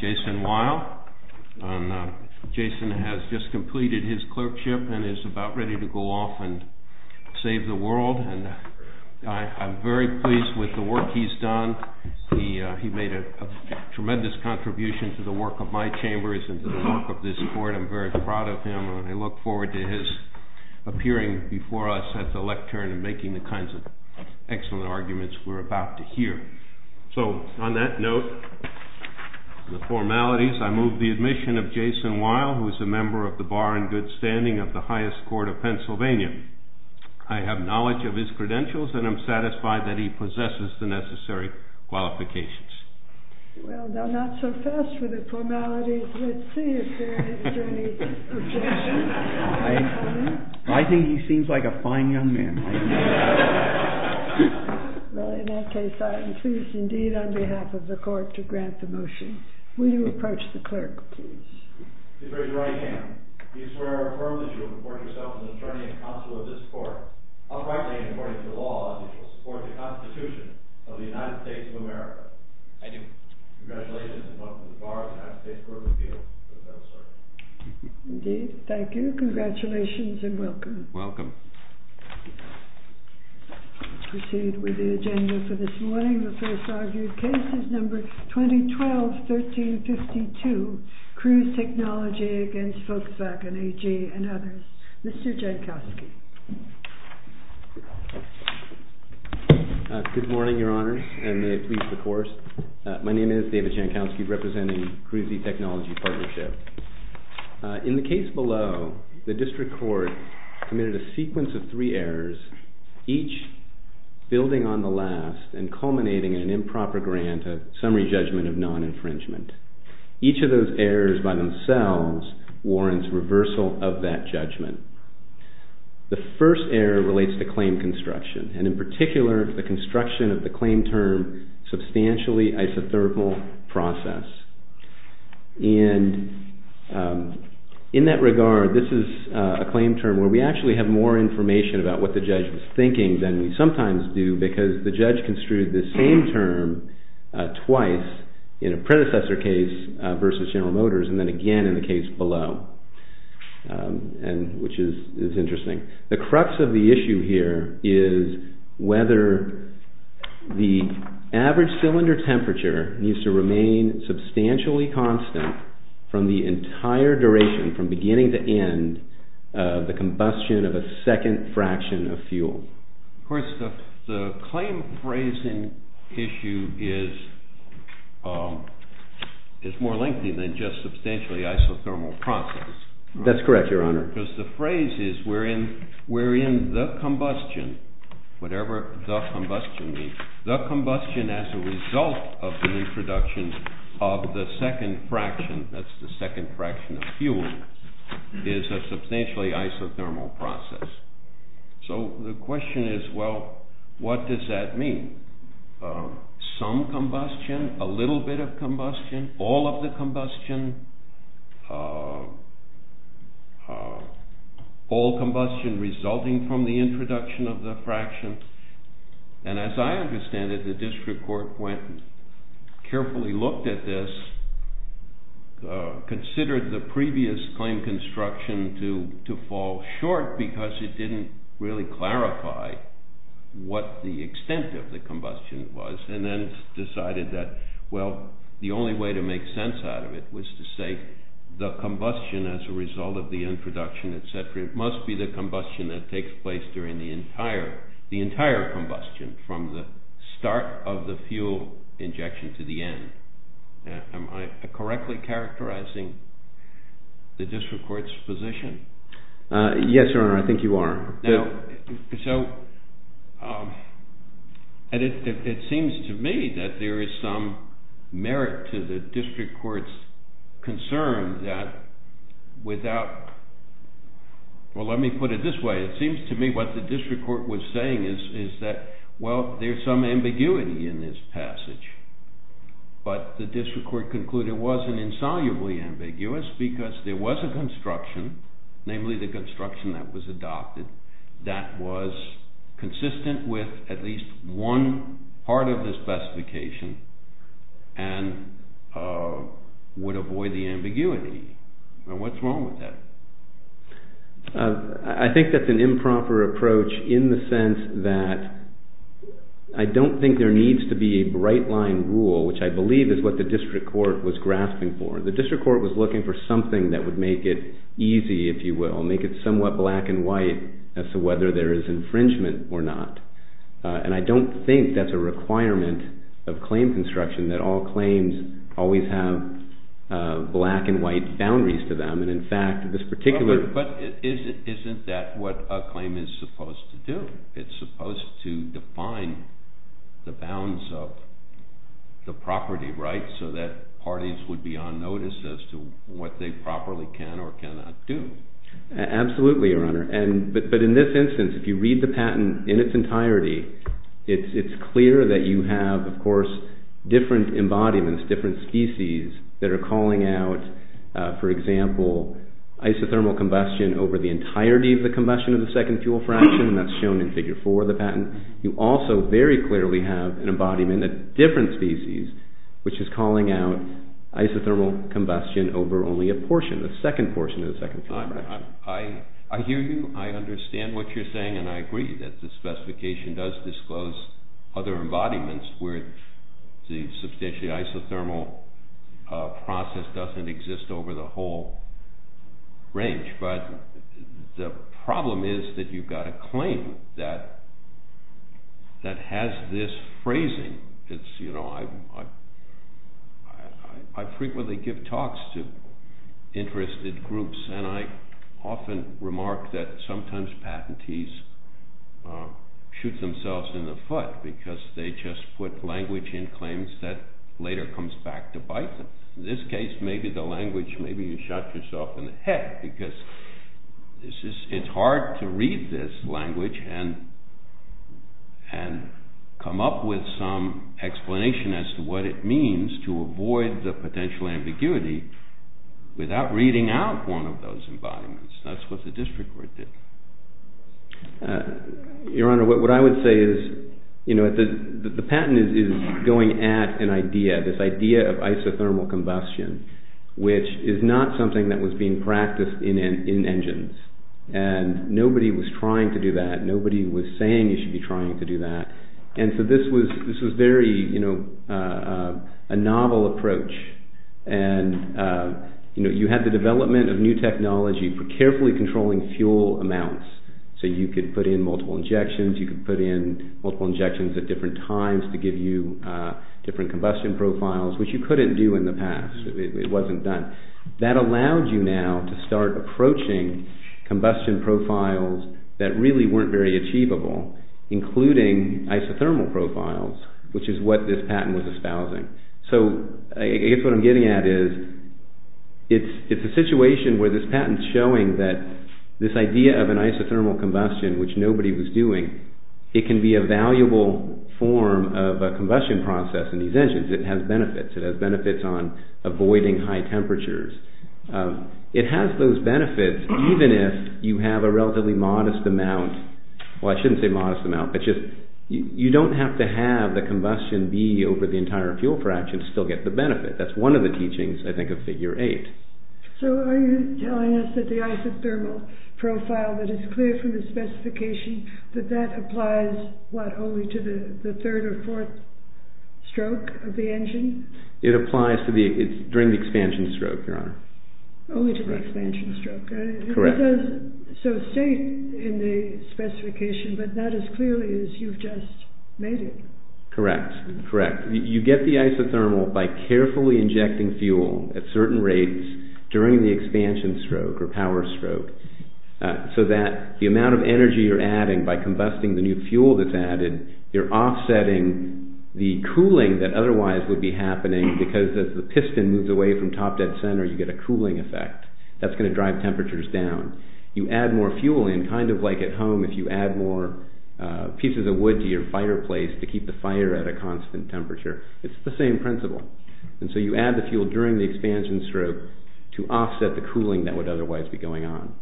Jason Weil. Jason has just completed his clerkship and is about ready to go off and save the world. And I'm very pleased with the work he's done. He made a tremendous contribution to the work of my chambers and the work of this board. I'm very proud of him, and I look forward to his appearing before us at the lectern and making the kinds of excellent arguments we're about to hear. So on that note, the formalities, I move the admission of Jason Weil, who is a member of the Bar and Good Standing of the Highest Court of Pennsylvania. I have knowledge of his credentials, and I'm satisfied that he possesses the necessary qualifications. Well, not so fast with the formalities. Let's see if there is any objection. I think he seems like a fine young man. Well, in that case, I am pleased, indeed, on behalf of the court, to grant the motion. Will you approach the clerk, please? Please raise your right hand. I swear affirmably that you will report yourself as an attorney and counsel of this court. I'll frankly, according to the law, that you will support the Constitution of the United States of America. I do. Congratulations, and welcome to the Bar of the United States Court of Appeals for the Federal Circuit. Indeed. Thank you. Congratulations, and welcome. Welcome. Proceed with the agenda for this morning. The first argued case is number 2012-1352, Cruise Technology against Volkswagen, AG, and others. Mr. Jankowski. Good morning, Your Honors, and may it please the Court. My name is David Jankowski, representing Cruise Technology Partnership. In the case below, the district court committed a sequence of three errors, each building on the last and culminating in an improper grant of summary judgment of non-infringement. Each of those errors, by themselves, warrants reversal of that judgment. The first error relates to claim construction, and in particular, the construction of the claim term, substantially isothermal process. And in that regard, this is a claim term where we actually have more information about what the judge was thinking than we sometimes do, because the judge construed the same term twice in a predecessor case versus General Motors, and then again in the case below, which is interesting. The crux of the issue here is whether the average cylinder temperature needs to remain substantially constant from the entire duration, from beginning to end, the combustion of a second fraction of fuel. Of course, the claim phrasing issue is more lengthy than just substantially isothermal process. That's correct, Your Honor. Because the phrase is, we're in the combustion, whatever the combustion means. The combustion as a result of the introduction of the second fraction, that's the second fraction of fuel, is a substantially isothermal process. So the question is, well, what does that mean? Some combustion, a little bit of combustion, all of the combustion, all combustion resulting from the introduction of the fraction. And as I understand it, the district court carefully looked at this, considered the previous claim construction to fall short, because it didn't really clarify what the extent of the combustion was, and then decided that, well, the only way to make sense out of it was to say, the combustion as a result of the introduction, et cetera, it must be the combustion that takes place during the entire combustion, from the start of the fuel injection to the end. Am I correctly characterizing the district court's position? Yes, Your Honor, I think you are. So it seems to me that there is some merit to the district court's concern that without, well, let me put it this way. It seems to me what the district court was saying is that, well, there's some ambiguity in this passage. But the district court concluded it wasn't insolubly ambiguous, because there was a construction, namely the construction that was adopted, that was consistent with at least one part of the specification, and would avoid the ambiguity. And what's wrong with that? I think that's an improper approach in the sense that I don't think there needs to be a bright line rule, which I believe is what the district court was grasping for. The district court was looking for something that would make it easy, if you will, make it somewhat black and white as to whether there is infringement or not. And I don't think that's a requirement of claim construction that all claims always have black and white boundaries to them. And in fact, this particular But isn't that what a claim is supposed to do? It's supposed to define the bounds of the property, right, so that parties would be on notice as to what they properly can or cannot do. Absolutely, Your Honor. But in this instance, if you read the patent in its entirety, it's clear that you have, of course, different embodiments, different species that are calling out, for example, isothermal combustion over the entirety of the combustion of the second fuel fraction, and that's shown in figure four of the patent. You also very clearly have an embodiment of different species, which is calling out isothermal combustion over only a portion, the second portion of the second fuel fraction. I hear you. I understand what you're saying, and I agree that the specification does disclose other embodiments where the substantially isothermal process doesn't exist over the whole range. But the problem is that you've got a claim that has this phrasing. It's, you know, I frequently give talks to interested groups, and I often remark that sometimes patentees shoot themselves in the foot because they just put language in claims that later comes back to bite them. In this case, maybe the language, maybe you shot yourself in the head because it's hard to read this language and come up with some explanation as to what it means to avoid the potential ambiguity without reading out one of those embodiments. That's what the district court did. Your Honor, what I would say is, you know, the patent is going at an idea, this idea of isothermal combustion, which is not something that was being practiced in engines. And nobody was trying to do that. Nobody was saying you should be trying to do that. And so this was very, you know, a novel approach. And, you know, you had the development of new technology for carefully controlling fuel amounts. So you could put in multiple injections. You could put in multiple injections at different times to give you different combustion profiles, which you couldn't do in the past. It wasn't done. That allowed you now to start approaching combustion profiles that really weren't very achievable, including isothermal profiles, which is what this patent was espousing. So I guess what I'm getting at is it's a situation where this patent's showing that this idea of an isothermal combustion, which nobody was doing, it can be a valuable form of a combustion process in these engines. It has benefits. It has benefits on avoiding high temperatures. It has those benefits even if you have a relatively modest amount, well, I shouldn't say modest amount, but just you don't have to have the combustion be over the entire fuel fraction to still get the benefit. That's one of the teachings, I think, of Figure 8. So are you telling us that the isothermal profile that is clear from the specification, that that applies, what, only to the third or fourth stroke of the engine? It applies during the expansion stroke, Your Honor. Only to the expansion stroke. Correct. So it's safe in the specification, but not as clearly as you've just made it. Correct, correct. You get the isothermal by carefully injecting fuel at certain rates during the expansion stroke or power stroke so that the amount of energy you're adding by combusting the new fuel that's added, you're offsetting the cooling that otherwise would be happening because as the piston moves away from top dead center, you get a cooling effect. That's going to drive temperatures down. You add more fuel in, kind of like at home, if you add more pieces of wood to your fireplace to keep the fire at a constant temperature. It's the same principle. And so you add the fuel during the expansion stroke to offset the cooling that would otherwise be going on.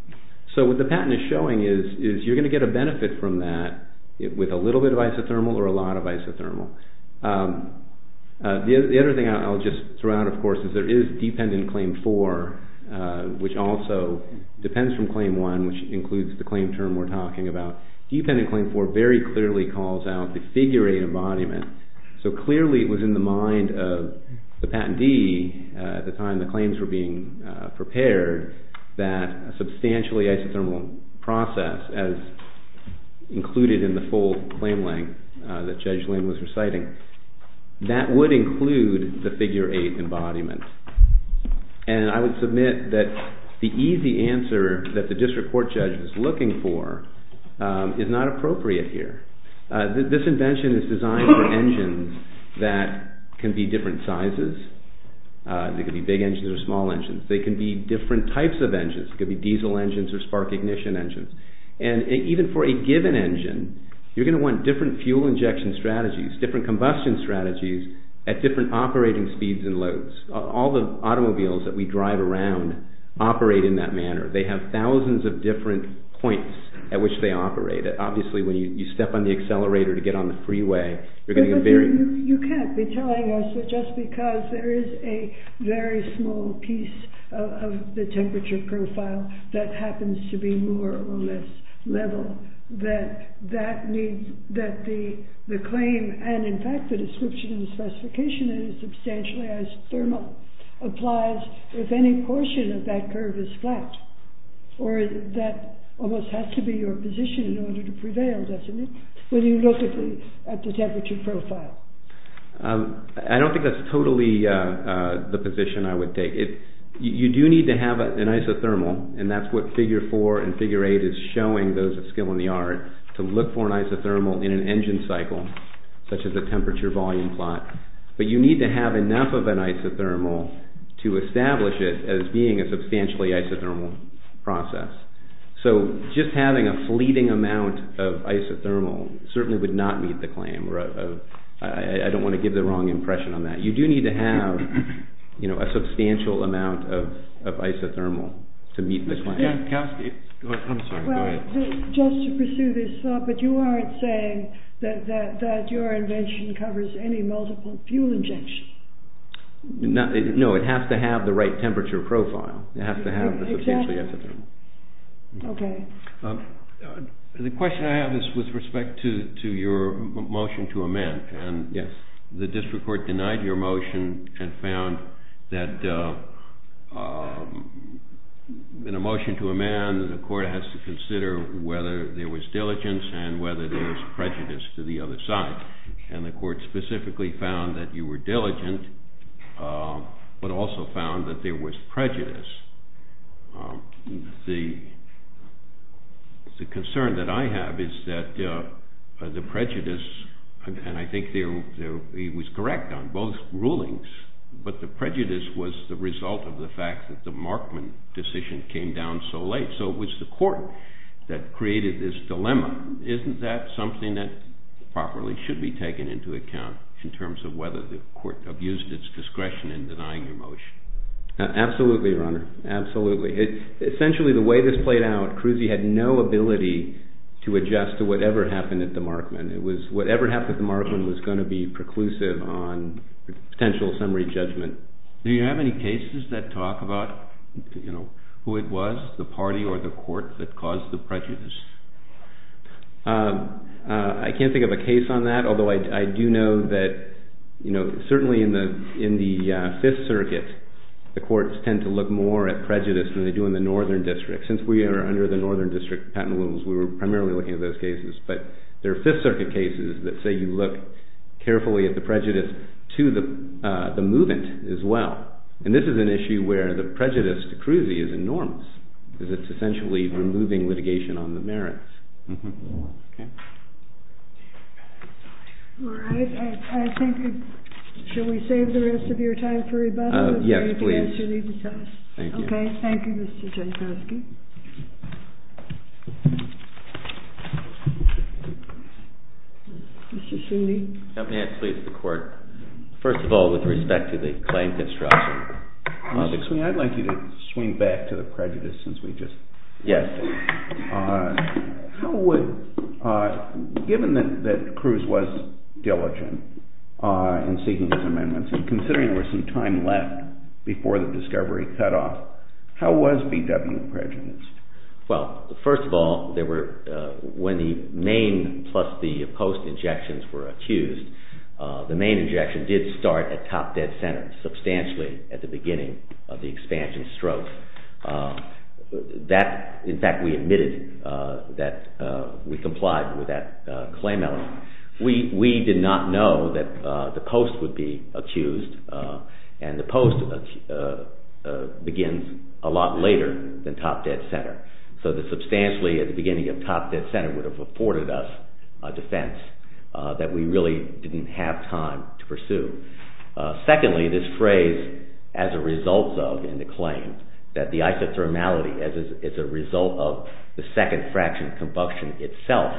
So what the patent is showing is you're going to get a benefit from that with a little bit of isothermal or a lot of isothermal. The other thing I'll just throw out, of course, is there is dependent claim four, which also depends from claim one, which includes the claim term we're talking about. Dependent claim four very clearly calls out the figure eight embodiment. So clearly it was in the mind of the patentee at the time the claims were being prepared that a substantially isothermal process as included in the full claim length that Judge Lin was reciting, that would include the figure eight embodiment. And I would submit that the easy answer that the district court judge was looking for is not appropriate here. This invention is designed for engines that can be different sizes. They can be big engines or small engines. They can be different types of engines. It could be diesel engines or spark ignition engines. And even for a given engine, you're going to want different fuel injection strategies, different combustion strategies at different operating speeds and loads. All the automobiles that we drive around operate in that manner. They have thousands of different points at which they operate. Obviously, when you step on the accelerator to get on the freeway, you're going to get very- You can't be telling us that just because there is a very small piece of the temperature profile that happens to be more or less level, that that means that the claim and, in fact, the description and the specification is substantially isothermal applies if any portion of that curve is flat. Or that almost has to be your position in order to prevail, doesn't it, when you look at the temperature profile? I don't think that's totally the position I would take. You do need to have an isothermal, and that's what Figure 4 and Figure 8 is showing, those of skill in the art, to look for an isothermal in an engine cycle, such as a temperature-volume plot. But you need to have enough of an isothermal to establish it as being a substantially isothermal process. So just having a fleeting amount of isothermal certainly would not meet the claim. I don't want to give the wrong impression on that. You do need to have a substantial amount of isothermal to meet the claim. Yeah, Kowski, go ahead. I'm sorry, go ahead. Just to pursue this thought, but you aren't saying that your invention covers any multiple fuel injections. No, it has to have the right temperature profile. It has to have the substantially isothermal. OK. The question I have is with respect to your motion to amend. And the district court denied your motion and found that in a motion to amend, the court has to consider whether there was diligence and whether there was prejudice to the other side. And the court specifically found that you were diligent, but also found that there was prejudice. The concern that I have is that the prejudice, and I think he was correct on both rulings, but the prejudice was the result of the fact that the Markman decision came down so late. So it was the court that created this dilemma. Isn't that something that properly should be taken into account in terms of whether the court abused its discretion in denying your motion? Absolutely, Your Honor. Absolutely. Essentially, the way this played out, Cruzi had no ability to adjust to whatever happened at the Markman. It was whatever happened at the Markman was going to be preclusive on potential summary judgment. Do you have any cases that talk about who it was, the party or the court, that caused the prejudice? I can't think of a case on that, although I do know that certainly in the Fifth Circuit, the courts tend to look more at prejudice than they do in the Northern District. Since we are under the Northern District patent rules, we were primarily looking at those cases. But there are Fifth Circuit cases that say you look carefully at the prejudice to the movement as well. And this is an issue where the prejudice to Cruzi is enormous, because it's essentially removing litigation on the merits. Shall we save the rest of your time for rebuttal? Yes, please. If you need to tell us. Thank you. OK. Mr. Sweeney? If I may, I'd like to speak to the court. First of all, with respect to the claim construction. Mr. Sweeney, I'd like you to swing back to the prejudice since we just heard it. Yes. How would, given that Cruz was diligent in seeking his amendments, and considering there was some time left was BW a prejudice, and how is BW a prejudice? Well, first of all, when the main plus the post injections were accused, the main injection did start at top dead center, substantially at the beginning of the expansion stroke. In fact, we admitted that we complied with that claim element. We did not know that the post would be accused. And the post begins a lot later than top dead center. So the substantially at the beginning of top dead center would have afforded us a defense that we really didn't have time to pursue. Secondly, this phrase, as a result though in the claim, that the isothermality is a result of the second fraction of combustion itself,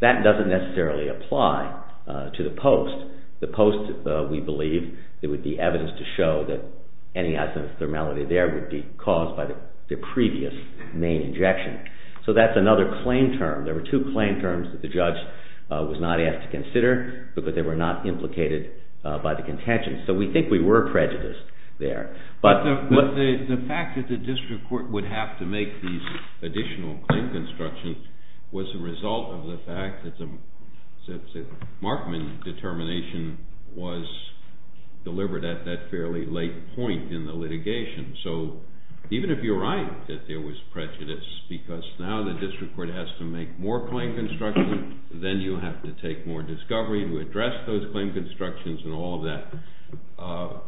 that doesn't necessarily apply to the post. The post, we believe, there would be evidence to show that any isothermality there would be caused by the previous main injection. So that's another claim term. There were two claim terms that the judge was not asked to consider, because they were not implicated by the contentions. So we think we were prejudiced there. But the fact that the district court would have to make these additional claim constructions was a result of the fact that the Markman determination was delivered at that fairly late point in the litigation. So even if you're right that there was prejudice, because now the district court has to make more claim construction, then you have to take more discovery to address those claim constructions and all of that.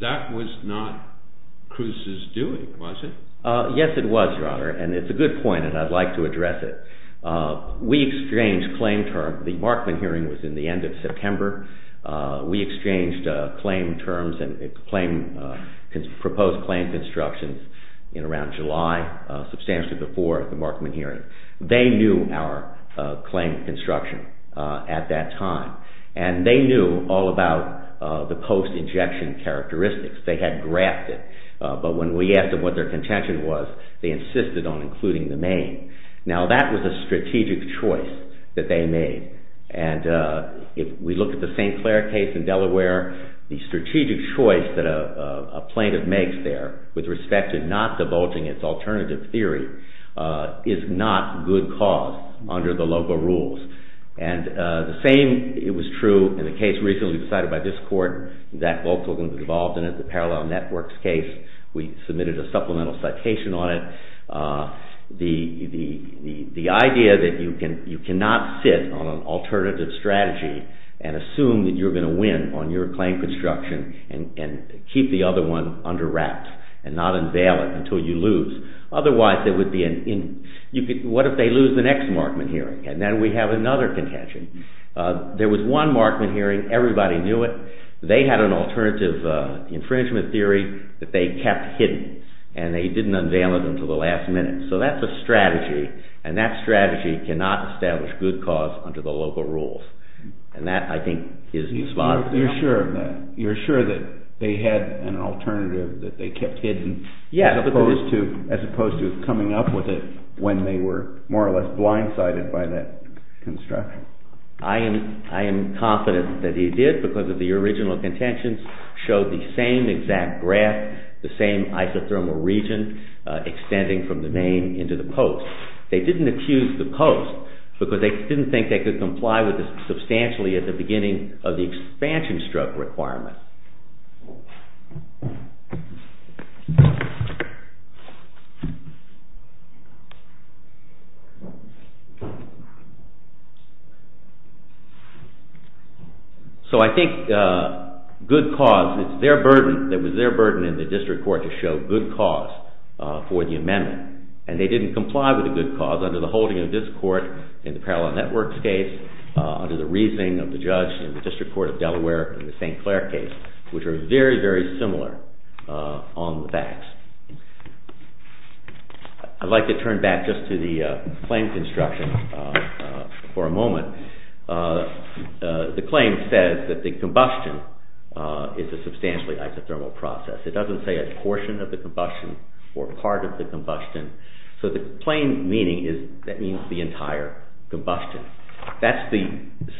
That was not Cruz's doing, was it? Yes, it was, Your Honor. And it's a good point, and I'd like to address it. We exchanged claim terms. The Markman hearing was in the end of September. We exchanged proposed claim constructions in around July, substantially before the Markman hearing. They knew our claim construction at that time. And they knew all about the post-injection characteristics. They had graphed it. But when we asked them what their contention was, they insisted on including the main. Now, that was a strategic choice that they made. And if we look at the St. Clair case in Delaware, the strategic choice that a plaintiff makes there with respect to not divulging its alternative theory is not good cause under the LOGO rules. And the same, it was true in the case recently decided by this court that both of them were involved in it, the Parallel Networks case. We submitted a supplemental citation on it. The idea that you cannot sit on an alternative strategy and assume that you're going to win on your claim construction and keep the other one under wraps and not unveil it until you lose. Otherwise, it would be an in. What if they lose the next Markman hearing? And then we have another contention. There was one Markman hearing. Everybody knew it. They had an alternative infringement theory that they kept hidden. And they didn't unveil it until the last minute. So that's a strategy. And that strategy cannot establish good cause under the LOGO rules. And that, I think, is the spot. You're sure of that? You're sure that they had an alternative that they kept hidden as opposed to coming up with it when they were more or less blindsided by that construction? I am confident that he did because the original contentions showed the same exact graph, the same isothermal region extending from the main into the post. They didn't accuse the post because they didn't think they could comply with this substantially at the beginning of the expansion stroke requirement. Yes. So I think good cause, it was their burden in the district court to show good cause for the amendment. And they didn't comply with the good cause under the holding of this court in the Parallel Networks Flair case, which are very, very similar on the facts. I'd like to turn back just to the claims instructions for a moment. The claim says that the combustion is a substantially isothermal process. It doesn't say a portion of the combustion or part of the combustion. So the plain meaning is that means the entire combustion. That's the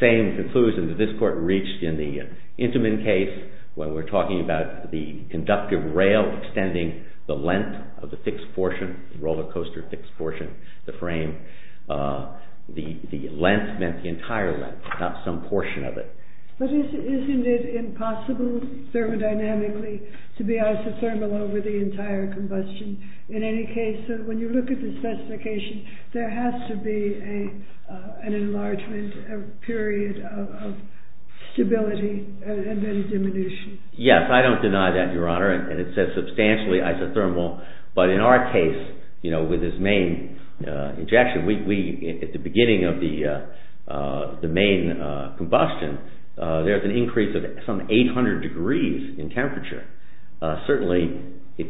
same conclusion that this court reached in the Intamin case, where we're talking about the conductive rail extending the length of the fixed portion, the roller coaster fixed portion, the frame. The length meant the entire length, not some portion of it. But isn't it impossible thermodynamically to be isothermal over the entire combustion? In any case, when you look at the specification, there has to be an enlargement, a period of stability, and then diminution. Yes, I don't deny that, Your Honor. And it says substantially isothermal. But in our case, with this main injection, at the beginning of the main combustion, there's an increase of some 800 degrees in temperature. Certainly, the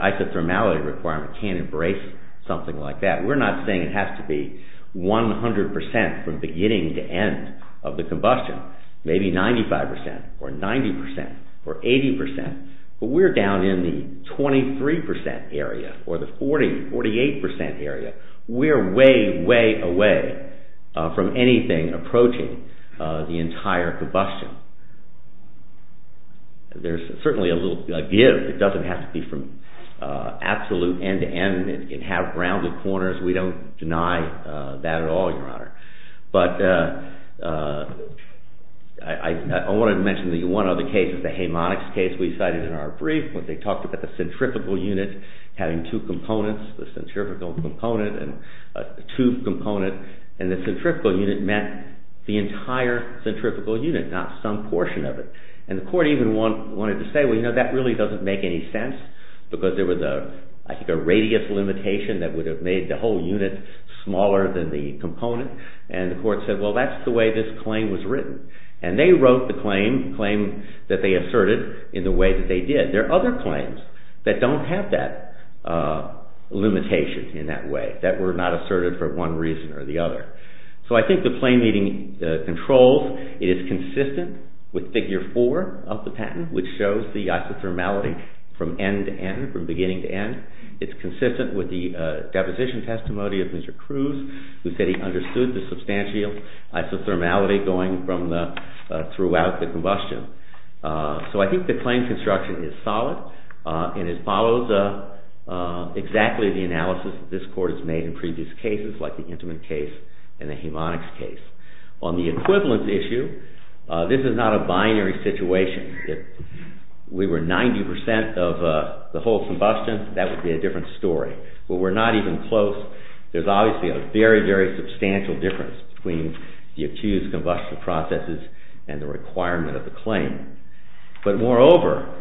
isothermality requirement can embrace something like that. We're not saying it has to be 100% from beginning to end of the combustion, maybe 95% or 90% or 80%. But we're down in the 23% area or the 48% area. We're way, way away from anything approaching the entire combustion. There's certainly a little give. It doesn't have to be from absolute end to end. It can have rounded corners. We don't deny that at all, Your Honor. But I want to mention one other case, the hamonics case we cited in our brief, when they talked about the centrifugal unit having two components, the centrifugal component and a tube component. And the centrifugal unit meant the entire centrifugal unit, not some portion of it. And the court even wanted to say, well, you know, that really doesn't make any sense, because there was, I think, a radius limitation that would have made the whole unit smaller than the component. And the court said, well, that's the way this claim was written. And they wrote the claim, the claim that they asserted in the way that they did. There are other claims that don't have that limitation in that way, that were not asserted for one reason or the other. So I think the claim meeting controls. It is consistent with figure 4 of the patent, which shows the isothermality from end to end, from beginning to end. It's consistent with the deposition testimony of Mr. Cruz, who said he understood the substantial isothermality going from throughout the combustion. So I think the claim construction is solid and it follows exactly the analysis that this court has made in previous cases, like the Intamin case and the hamonics case. On the equivalent issue, this is not a binary situation. If we were 90% of the whole combustion, that would be a different story. But we're not even close. There's obviously a very, very substantial difference between the accused combustion processes and the requirement of the claim. But moreover,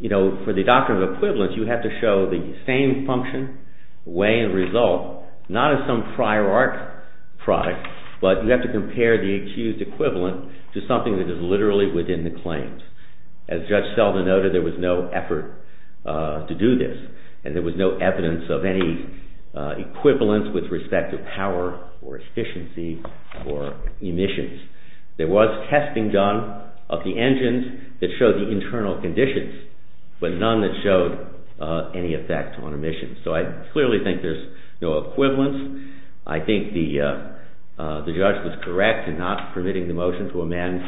for the doctrine of equivalence, you have to show the same function, way, and result, not as some prior art product. But you have to compare the accused equivalent to something that is literally within the claims. As Judge Selden noted, there was no effort to do this. And there was no evidence of any equivalence with respect to power, or efficiency, or emissions. There was testing done of the engines that showed the internal conditions, but none that showed any effect on emissions. So I clearly think there's no equivalence. I think the judge was correct in not permitting the motion to amend,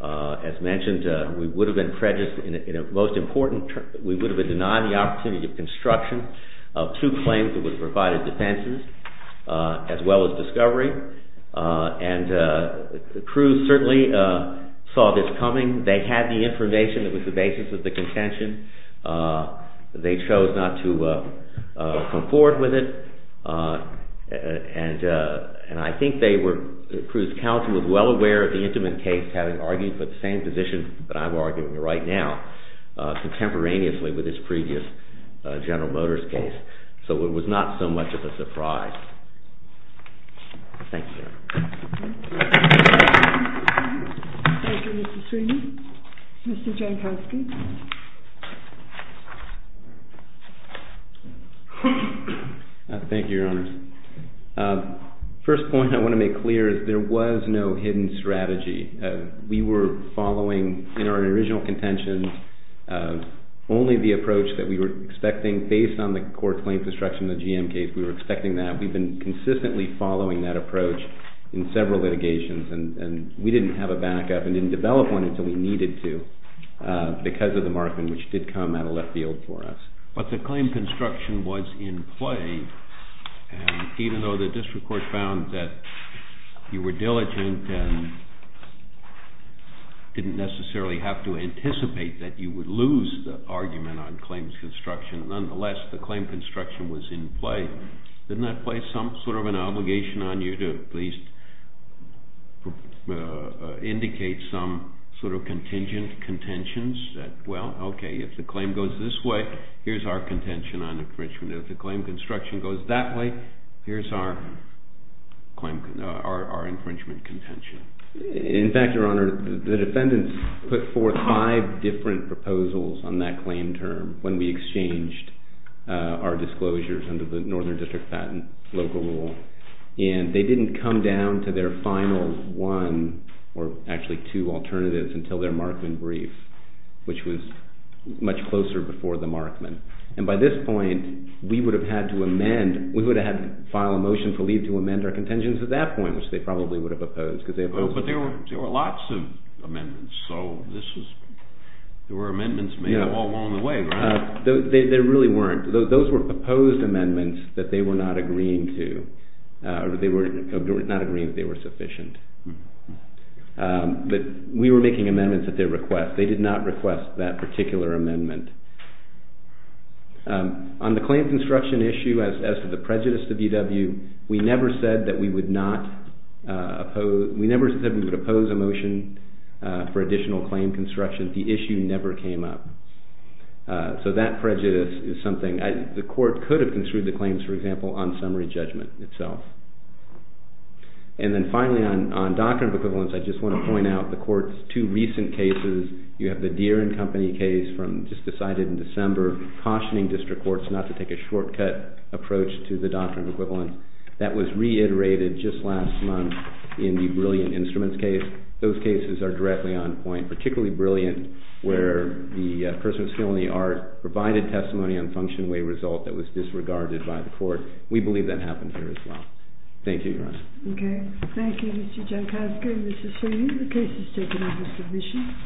as mentioned. We would have been prejudiced in a most important term. We would have been denied the opportunity of construction of two claims that would have provided defenses, as well as discovery. And Cruz certainly saw this coming. They had the information that was the basis of the contention. And I think they were, Cruz's counsel, was well aware of the Intiman case, having argued for the same position that I'm arguing right now, contemporaneously with his previous General Motors case. So it was not so much of a surprise. Thank you. Thank you, Mr. Sweeney. Mr. Jankowski. Thank you, Your Honors. First point I want to make clear is there was no hidden strategy. We were following, in our original contention, only the approach that we were expecting based on the court claim construction of the GM case. We were expecting that. We've been consistently following that approach in several litigations. And we didn't have a backup and didn't develop one until we needed to because of the markman, which did come out of left field for us. But the claim construction was in play, even though the district court found that you were diligent and didn't necessarily have to anticipate that you would lose the argument on claims construction. Nonetheless, the claim construction was in play. Didn't that place some sort of an obligation on you to at least indicate some sort of contingent contentions that, well, OK, if the claim goes this way, here's our contention on infringement. If the claim construction goes that way, here's our infringement contention. In fact, Your Honor, the defendants put forth five different proposals on that claim term when we exchanged our disclosures under the Northern District Patent local rule. And they didn't come down to their final one, or actually two, alternatives until their markman brief, which was much closer before the markman. And by this point, we would have had to amend, we would have had to file a motion for leave to amend our contingents at that point, which they probably would have opposed, because they opposed it. But there were lots of amendments. So there were amendments made along the way, right? There really weren't. Those were proposed amendments that they were not agreeing to, or they were not agreeing that they were sufficient. But we were making amendments at their request. They did not request that particular amendment. On the claim construction issue, as to the prejudice to VW, we never said that we would not oppose, we never said we would oppose a motion for additional claim construction. The issue never came up. So that prejudice is something, the court could have construed the claims, for example, on summary judgment itself. And then finally, on doctrine of equivalence, I just want to point out the court's two recent cases. You have the Deere and Company case from, just decided in December, cautioning district courts not to take a shortcut approach to the doctrine of equivalence. That was reiterated just last month in the Brilliant Instruments case. Those cases are directly on point, particularly Brilliant, where the person with skill in the art provided testimony on function way result that was disregarded by the court. We believe that happened here as well. Thank you, Your Honor. OK. Thank you, Mr. Jankowski and Mrs. Sweeney. The case is taken up as submission.